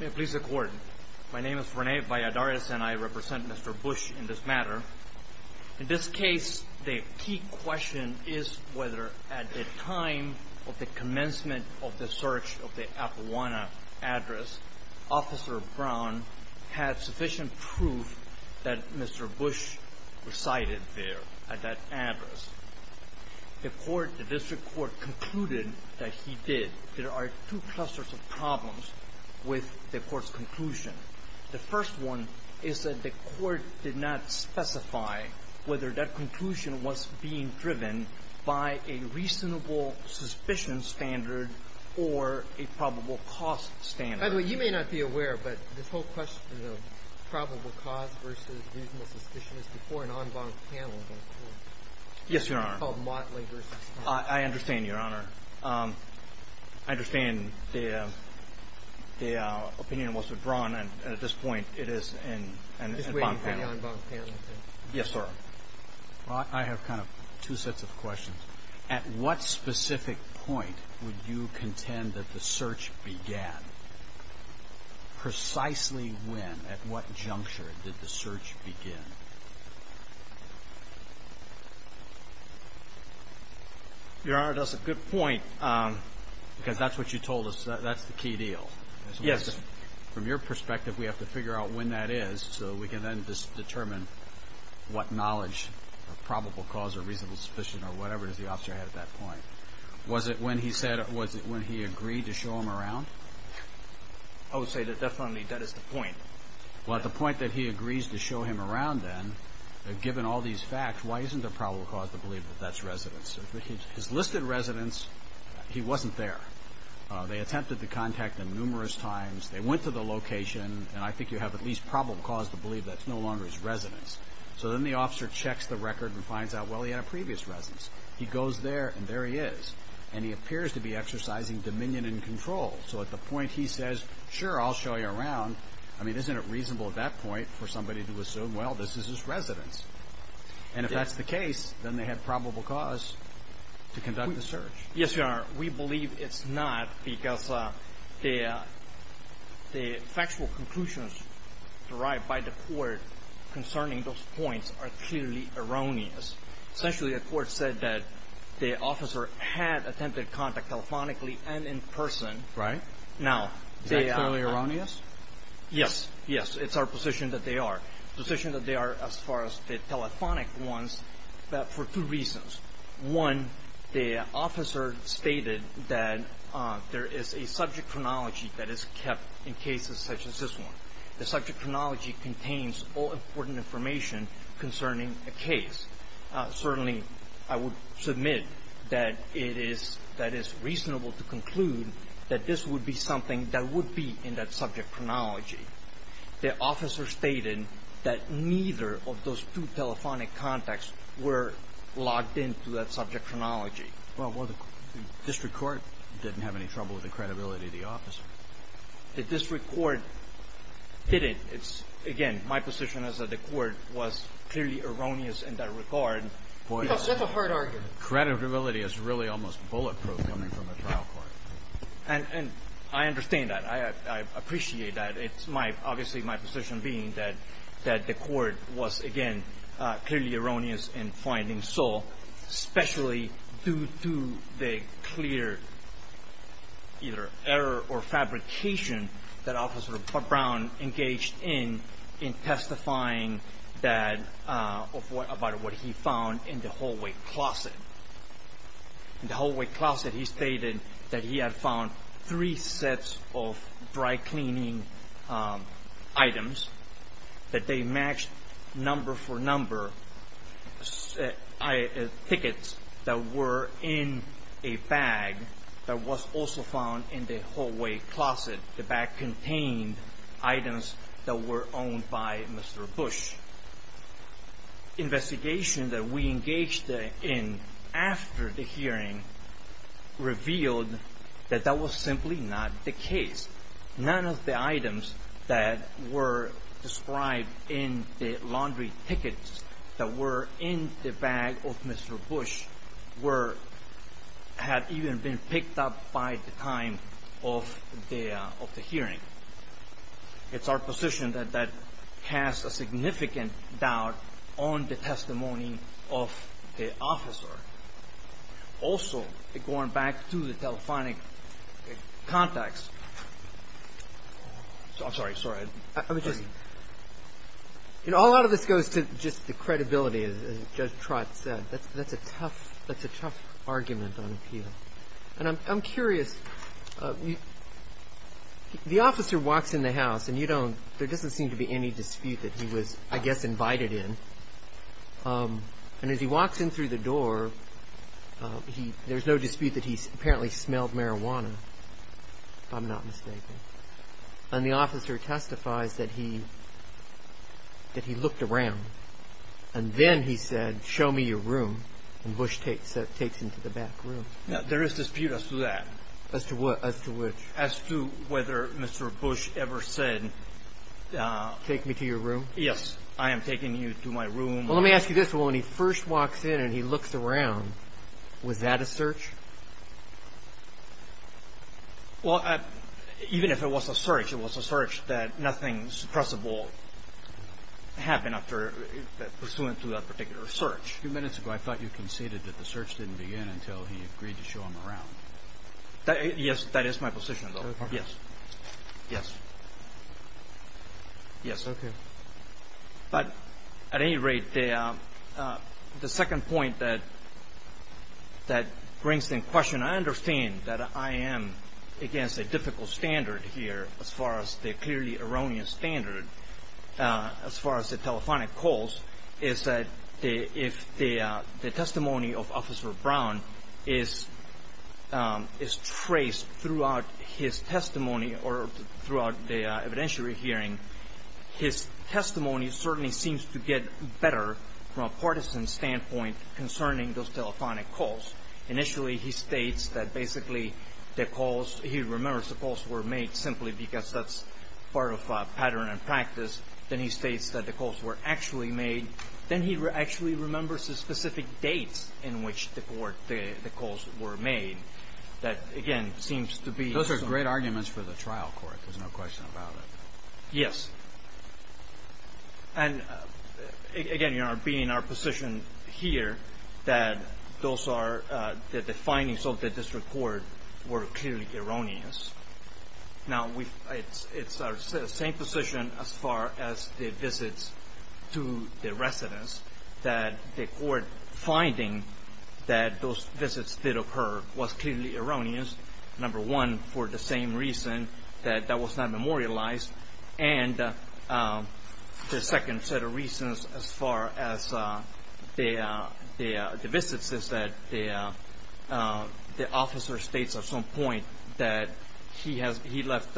May it please the court, my name is Rene Valladares and I represent Mr. Bush in this matter. In this case, the key question is whether at the time of the commencement of the search of the Apoahana address, Officer Brown had sufficient proof that Mr. Bush resided there at that address. The court, the district court concluded that he did. There are two clusters of problems with the court's conclusion. The first one is that the court did not specify whether that conclusion was being driven by a reasonable suspicion standard or a probable cost standard. By the way, you may not be aware, but this whole question of probable cost versus reasonable suspicion is before an en banc panel going forward. Yes, Your Honor. It's called Motley v. Scott. I understand, Your Honor. I understand the opinion was withdrawn and at this point it is in an en banc panel. Just waiting for the en banc panel, I think. Yes, sir. Well, I have kind of two sets of questions. At what specific point would you contend that the search began? Precisely when, at what juncture did the search begin? Your Honor, that's a good point because that's what you told us. That's the key deal. Yes. From your perspective, we have to figure out when that is so we can then determine what knowledge or probable cause or reasonable suspicion or whatever the officer had at that point. Was it when he said, was it when he agreed to show him around? I would say that definitely that is the point. Well, at the point that he agrees to show him around then, given all these facts, why isn't there probable cause to believe that that's residence? His listed residence, he wasn't there. They attempted to contact him numerous times. They went to the location and I think you have at least probable cause to believe that's no longer his residence. So then the officer checks the record and finds out, well, he had a previous residence. He goes there and there he is. And he appears to be exercising dominion and control. So at the point he says, sure, I'll show you around. I mean, isn't it reasonable at that point for somebody to assume, well, this is his residence? And if that's the case, then they have probable cause to conduct the search. Yes, Your Honor. We believe it's not because the factual conclusions derived by the court concerning those points are clearly erroneous. Essentially, the court said that the officer had attempted contact telephonically and in person. Right. Now, they are – Is that clearly erroneous? Yes. Yes. It's our position that they are. The position that they are as far as the telephonic ones, for two reasons. One, the officer stated that there is a subject chronology that is kept in cases such as this one. The subject chronology contains all important information concerning a case. Certainly, I would submit that it is – that it's reasonable to conclude that this would be something that would be in that subject chronology. The officer stated that neither of those two telephonic contacts were logged into that subject chronology. Well, the district court didn't have any trouble with the credibility of the officer. The district court didn't. It's – again, my position is that the court was clearly erroneous in that regard. Because that's a hard argument. Credibility is really almost bulletproof coming from a trial court. And I understand that. I appreciate that. It's my – obviously, my position being that the court was, again, clearly erroneous in finding Sol, especially due to the clear either error or fabrication that Officer Brown engaged in, in testifying that – about what he found in the hallway closet. In the hallway closet, he stated that he had found three sets of dry cleaning items that they matched number for were in a bag that was also found in the hallway closet. The bag contained items that were owned by Mr. Bush. Investigation that we engaged in after the hearing revealed that that was simply not the case. None of the items that were described in the laundry tickets that were in the bag of Mr. Bush were – had even been picked up by the time of the hearing. It's our position that that has a significant doubt on the testimony of the officer. Also, going back to the telephonic contacts – I'm sorry. Sorry. I was just – you know, a lot of this goes to just the credibility, as Judge Trott said. That's a tough – that's a tough argument on appeal. And I'm curious. The officer walks in the house, and you don't – there doesn't seem to be any dispute that he was, I guess, invited in. And as he walks in through the door, he – there's no dispute that he apparently smelled marijuana, if I'm not mistaken. And the officer testifies that he – that he looked around. And then he said, show me your room. And Bush takes him to the back room. Now, there is dispute as to that. As to what? As to which? As to whether Mr. Bush ever said – Take me to your room? Yes. I am taking you to my room. Well, let me ask you this. When he first walks in and he looks around, was that a search? Well, even if it was a search, it was a search that nothing suppressible happened after – pursuant to that particular search. A few minutes ago, I thought you conceded that the search didn't begin until he agreed to show him around. Yes, that is my position, though. Okay. Yes. Yes. Yes. Okay. But at any rate, the second point that brings in question – I understand that I am against a difficult standard here, as far as the clearly erroneous standard, as far as the telephonic calls, is that if the testimony of Officer Brown is traced throughout his testimony or throughout the evidentiary hearing, his testimony certainly seems to get better from a partisan standpoint concerning those telephonic calls. Initially, he states that basically the calls – he remembers the calls were made simply because that's part of pattern and practice. Then he states that the calls were actually made. Then he actually remembers the specific dates in which the calls were made. That, again, seems to be – Those are great arguments for the trial court. There's no question about it. Yes. And, again, being in our position here, that those are – that the findings of the district court were clearly erroneous. Now, it's our same position as far as the visits to the residents, that the court finding that those visits did occur was clearly erroneous, number one, for the same reason, that that was not memorialized. And the second set of reasons as far as the visits is that the officer states at some point that he left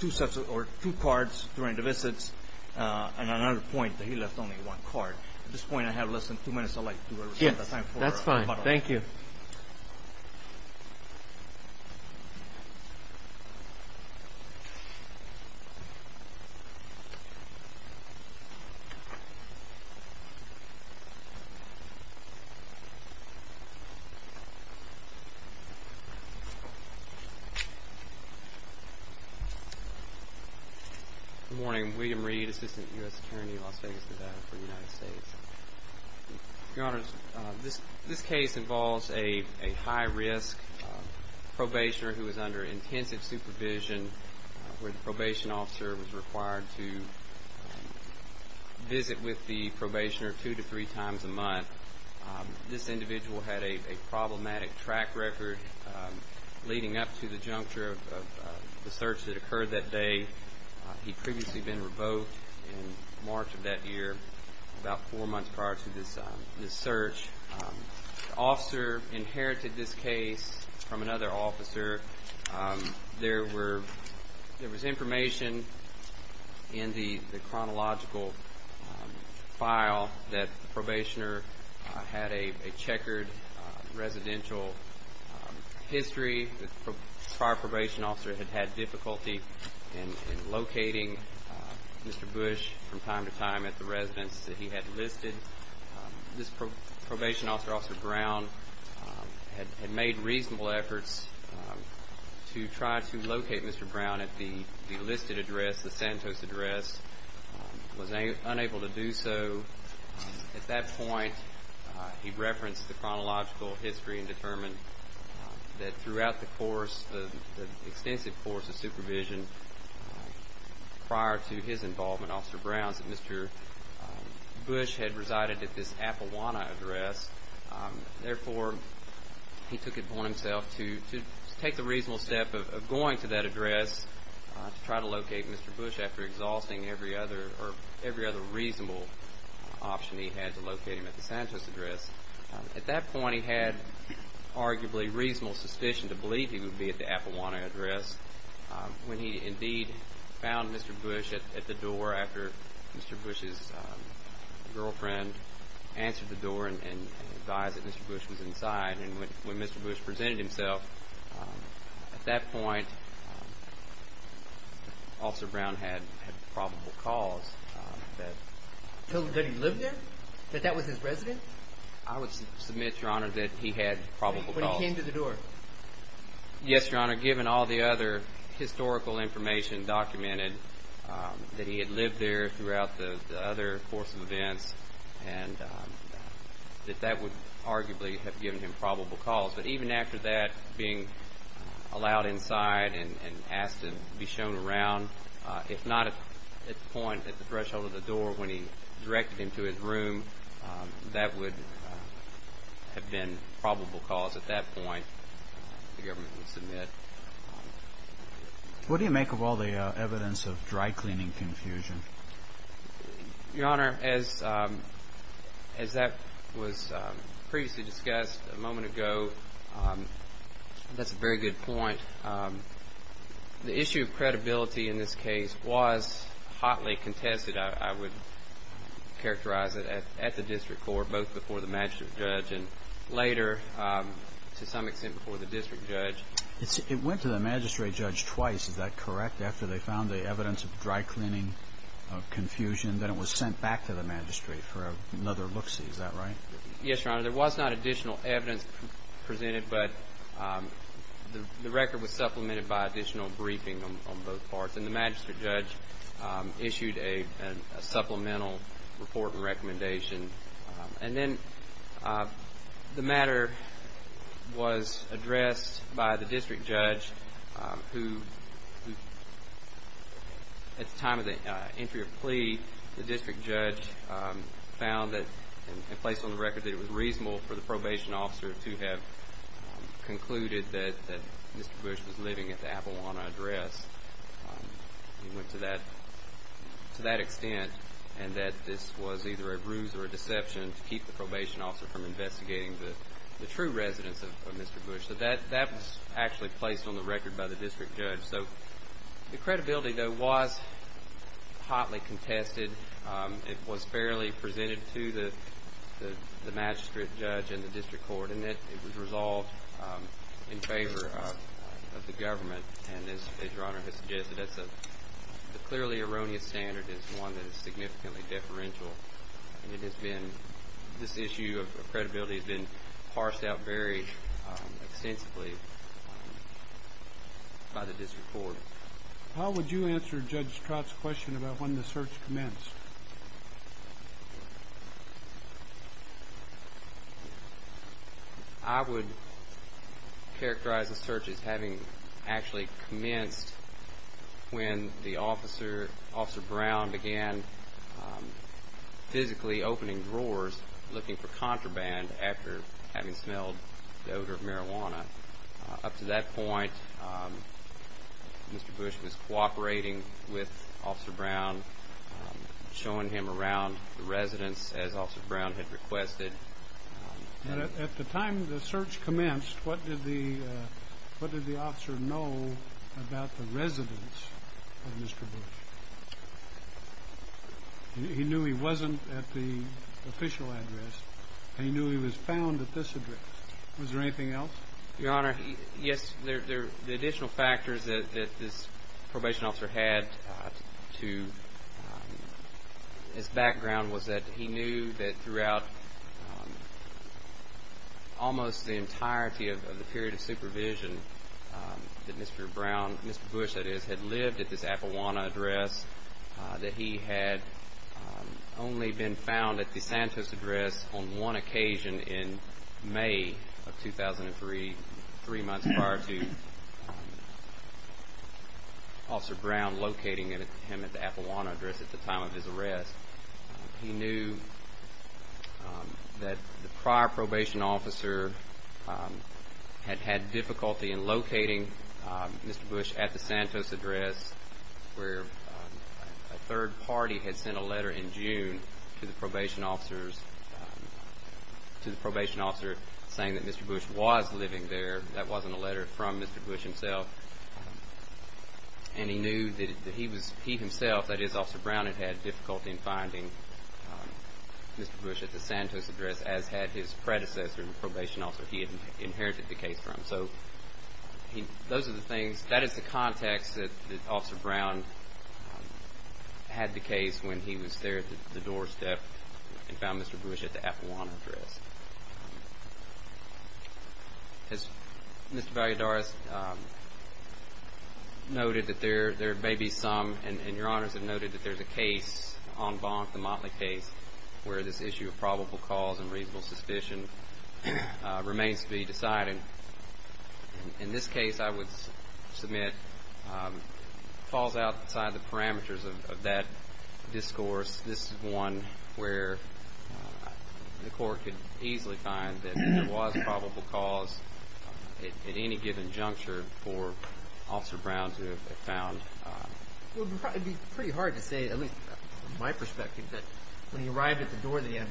two sets – or two cards during the visits, and another point that he left only one card. At this point, I have less than two minutes. I'd like to reserve the time for – Yes, that's fine. Thank you. Good morning. William Reed, Assistant U.S. Attorney, Las Vegas, Nevada, for the United States. Your Honors, this case involves a high-risk probationer who was under intensive supervision where the probation officer was required to visit with the probationer two to three times a month. This individual had a problematic track record leading up to the juncture of the search that occurred that day. He'd previously been revoked in March of that year, about four months prior to this search. The officer inherited this case from another officer. There was information in the chronological file that the probationer had a checkered residential history. The prior probation officer had had difficulty in locating Mr. Bush from time to time at the residence that he had listed. This probation officer, Officer Brown, had made reasonable efforts to try to locate Mr. Brown at the listed address, the Santos address, was unable to do so. At that point, he referenced the chronological history and determined that throughout the course, the extensive course of supervision prior to his involvement, Officer Brown said Mr. Bush had resided at this Appawanna address. Therefore, he took it upon himself to take the reasonable step of going to that address to try to locate Mr. Bush after exhausting every other reasonable option he had to locate him at the Santos address. At that point, he had arguably reasonable suspicion to believe he would be at the Appawanna address when he indeed found Mr. Bush at the door after Mr. Bush's girlfriend answered the door and advised that Mr. Bush was inside. When Mr. Bush was inside, at that point, Officer Brown had probable cause that... That he lived there? That that was his residence? I would submit, Your Honor, that he had probable cause. When he came to the door? Yes, Your Honor, given all the other historical information documented that he had lived there throughout the other course of events and that that would arguably have given him probable cause. But even after that, being allowed inside and asked to be shown around, if not at the point at the threshold of the door when he directed him to his room, that would have been probable cause at that point, the government would submit. What do you make of all the evidence of dry-cleaning confusion? Your Honor, as that was previously discussed a moment ago, that's a very good point. The issue of credibility in this case was hotly contested, I would characterize it, at the district court, both before the magistrate judge and later, to some extent, before the district judge. It went to the magistrate judge twice, is that correct, after they found the evidence of dry-cleaning confusion, then it was sent back to the magistrate for another look-see, is that right? Yes, Your Honor, there was not additional evidence presented, but the record was supplemented by additional briefing on both parts, and the magistrate judge issued a supplemental report and recommendation. And then the matter was addressed by the district judge, who, at the time of the entry of plea, the district judge found and placed on the record that it was reasonable for the probation officer to have concluded that Mr. Bush was living at the Appalachian Address. He went to that extent, and that this was either a bruise or a deception to keep the probation officer from investigating the true residence of Mr. Bush. So, the credibility, though, was hotly contested. It was fairly presented to the magistrate judge and the district court, and it was resolved in favor of the government. And as Your Honor has suggested, the clearly erroneous standard is one that is significantly deferential. And it has been, this issue of credibility has been parsed out very extensively by the district court. How would you answer Judge Stratton's question about when the search commenced? I would characterize the search as having actually commenced when the officer, Officer Brown, was physically opening drawers looking for contraband after having smelled the odor of marijuana. Up to that point, Mr. Bush was cooperating with Officer Brown, showing him around the residence as Officer Brown had requested. At the time the search commenced, what did the officer know about the residence of Mr. Brown? He knew he wasn't at the official address. He knew he was found at this address. Was there anything else? Your Honor, yes. The additional factors that this probation officer had to his background was that he knew that throughout almost the entirety of the period of supervision that Mr. Brown, Mr. Bush that is, had lived at this apple address, that he had only been found at the Santos address on one occasion in May of 2003, three months prior to Officer Brown locating him at the apple address at the time of his arrest. He knew that the prior Mr. Bush at the Santos address where a third party had sent a letter in June to the probation officers, to the probation officer saying that Mr. Bush was living there. That wasn't a letter from Mr. Bush himself. And he knew that he was, he himself, that is Officer Brown had had difficulty in finding Mr. Bush at the Santos address as had his predecessor and probation officer he had inherited the case from. So those are the things, that is the context that Officer Brown had the case when he was there at the doorstep and found Mr. Bush at the apple address. Has Mr. Valladares noted that there may be some, and Your Honors have noted that there's a case en banc, the Motley case where this issue of probable cause and reasonable suspicion remains to be decided. In this case I would submit falls outside the parameters of that discourse. This is one where the court could easily find that there was probable cause at any given juncture for Officer Brown to have found. It would probably be pretty hard to say, at least from my perspective, that when he arrived at the door that he had,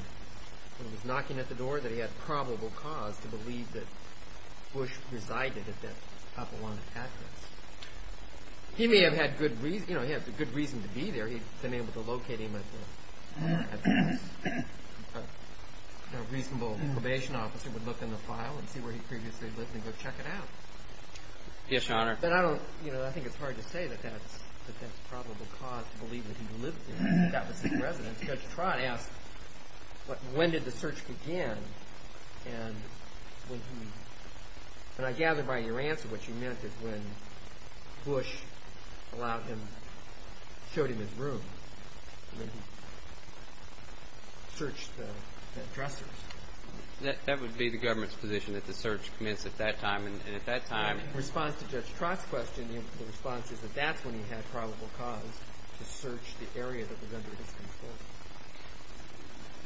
when he was knocking at the door that he had probable cause to believe that Bush resided at that apple-land address. He may have had good reason, you know, he had good reason to be there. He'd been able to locate him at the, at the, a reasonable probation officer would look in the file and see where he previously lived and go check it out. Yes, Your Honor. But I don't, you know, I think it's hard to say that that's, that that's probable cause to believe that he lived there and that was his residence. Judge Trott asked when did the search begin and when he, and I gather by your answer what you meant is when Bush allowed him, showed him his room and then he searched the addressers. That would be the government's position that the search commenced at that time and at that time. In response to Judge Trott's question, the response is that that's when he had probable cause to search the area that was under his control.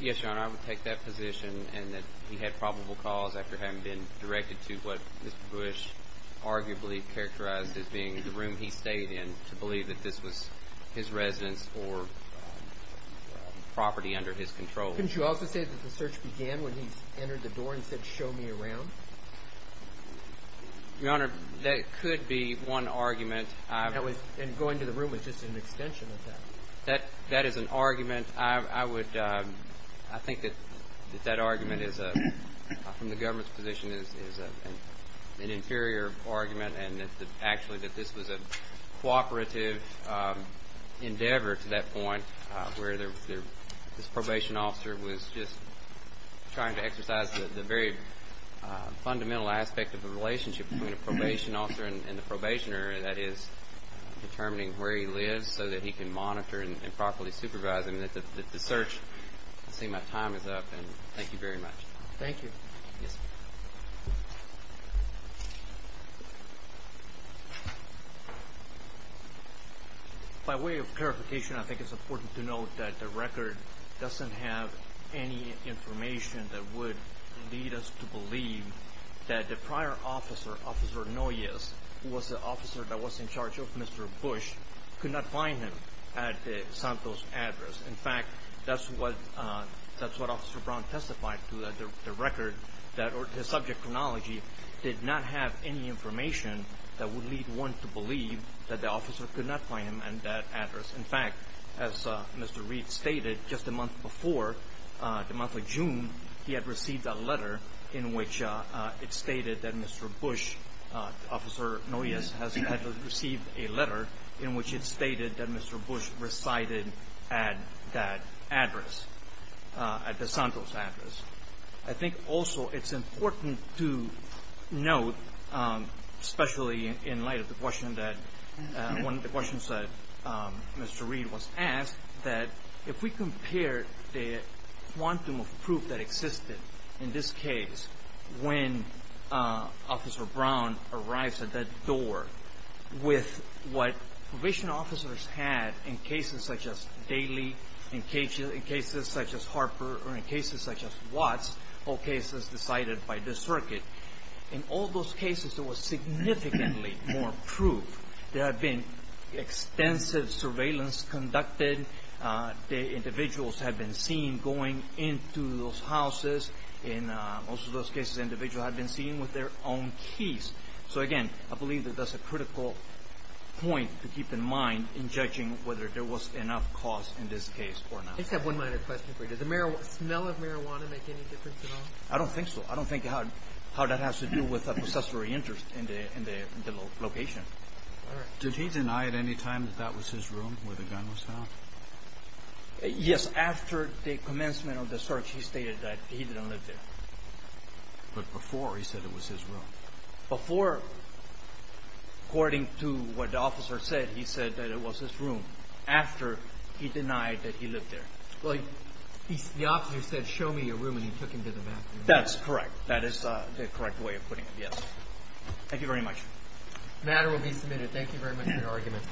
Yes, Your Honor, I would take that position and that he had probable cause after having been directed to what Mr. Bush arguably characterized as being the room he stayed in to believe that this was his residence or property under his control. Couldn't you also say that the search began when he entered the door and said, show me around? Your Honor, that could be one argument. And going to the room was just an extension of that. That is an argument. I would, I think that that argument is, from the government's position, is an inferior argument and that actually that this was a cooperative endeavor to that point where this probation officer was just trying to exercise the very fundamental aspect of the relationship between a probation officer and the probationer, that is, determining where he lives so that he can monitor and properly supervise him. The search, I see my time is up, and thank you very much. Thank you. Yes, sir. By way of clarification, I think it's important to note that the record doesn't have any information that would lead us to believe that the prior officer, Officer Noyes, who was the officer that was in charge of Mr. Bush, could not find him at the Santos address. In fact, that's what Officer Brown testified to, that the record, that his subject chronology did not have any information that would lead one to believe that the officer could not find him at that address. In fact, as Mr. Reed stated, just a month before, the month of June, he had received a letter in which it stated that Mr. Bush, Officer Noyes, had received a letter in which it stated that Mr. Bush resided at that address, at the Santos address. I think also it's important to note, especially in light of the question that, one of the questions that Mr. Reed was asked, that if we compare the quantum of proof that existed in this case when Officer Brown arrives at that door with what probation officers had in cases such as Daley, in cases such as Harper, or in cases such as Watts, all cases decided by this circuit, in all those cases there was significantly more proof. There had been extensive surveillance conducted. The individuals had been seen going into those houses. In most of those cases, individuals had been seen with their own keys. So again, I believe that that's a critical point to keep in mind in judging whether there was enough cause in this case or not. I just have one minor question for you. Does the smell of marijuana make any difference at all? I don't think so. I don't think how that has to do with a possessory interest in the location. Did he deny at any time that that was his room where the gun was found? Yes, after the commencement of the search he stated that he didn't live there. But before he said it was his room. Before, according to what the officer said, he said that it was his room. After, he denied that he lived there. The officer said, show me your room, and he took him to the bathroom. That's correct. That is the correct way of putting it, yes. Thank you very much. The matter will be submitted. Thank you very much for your argument.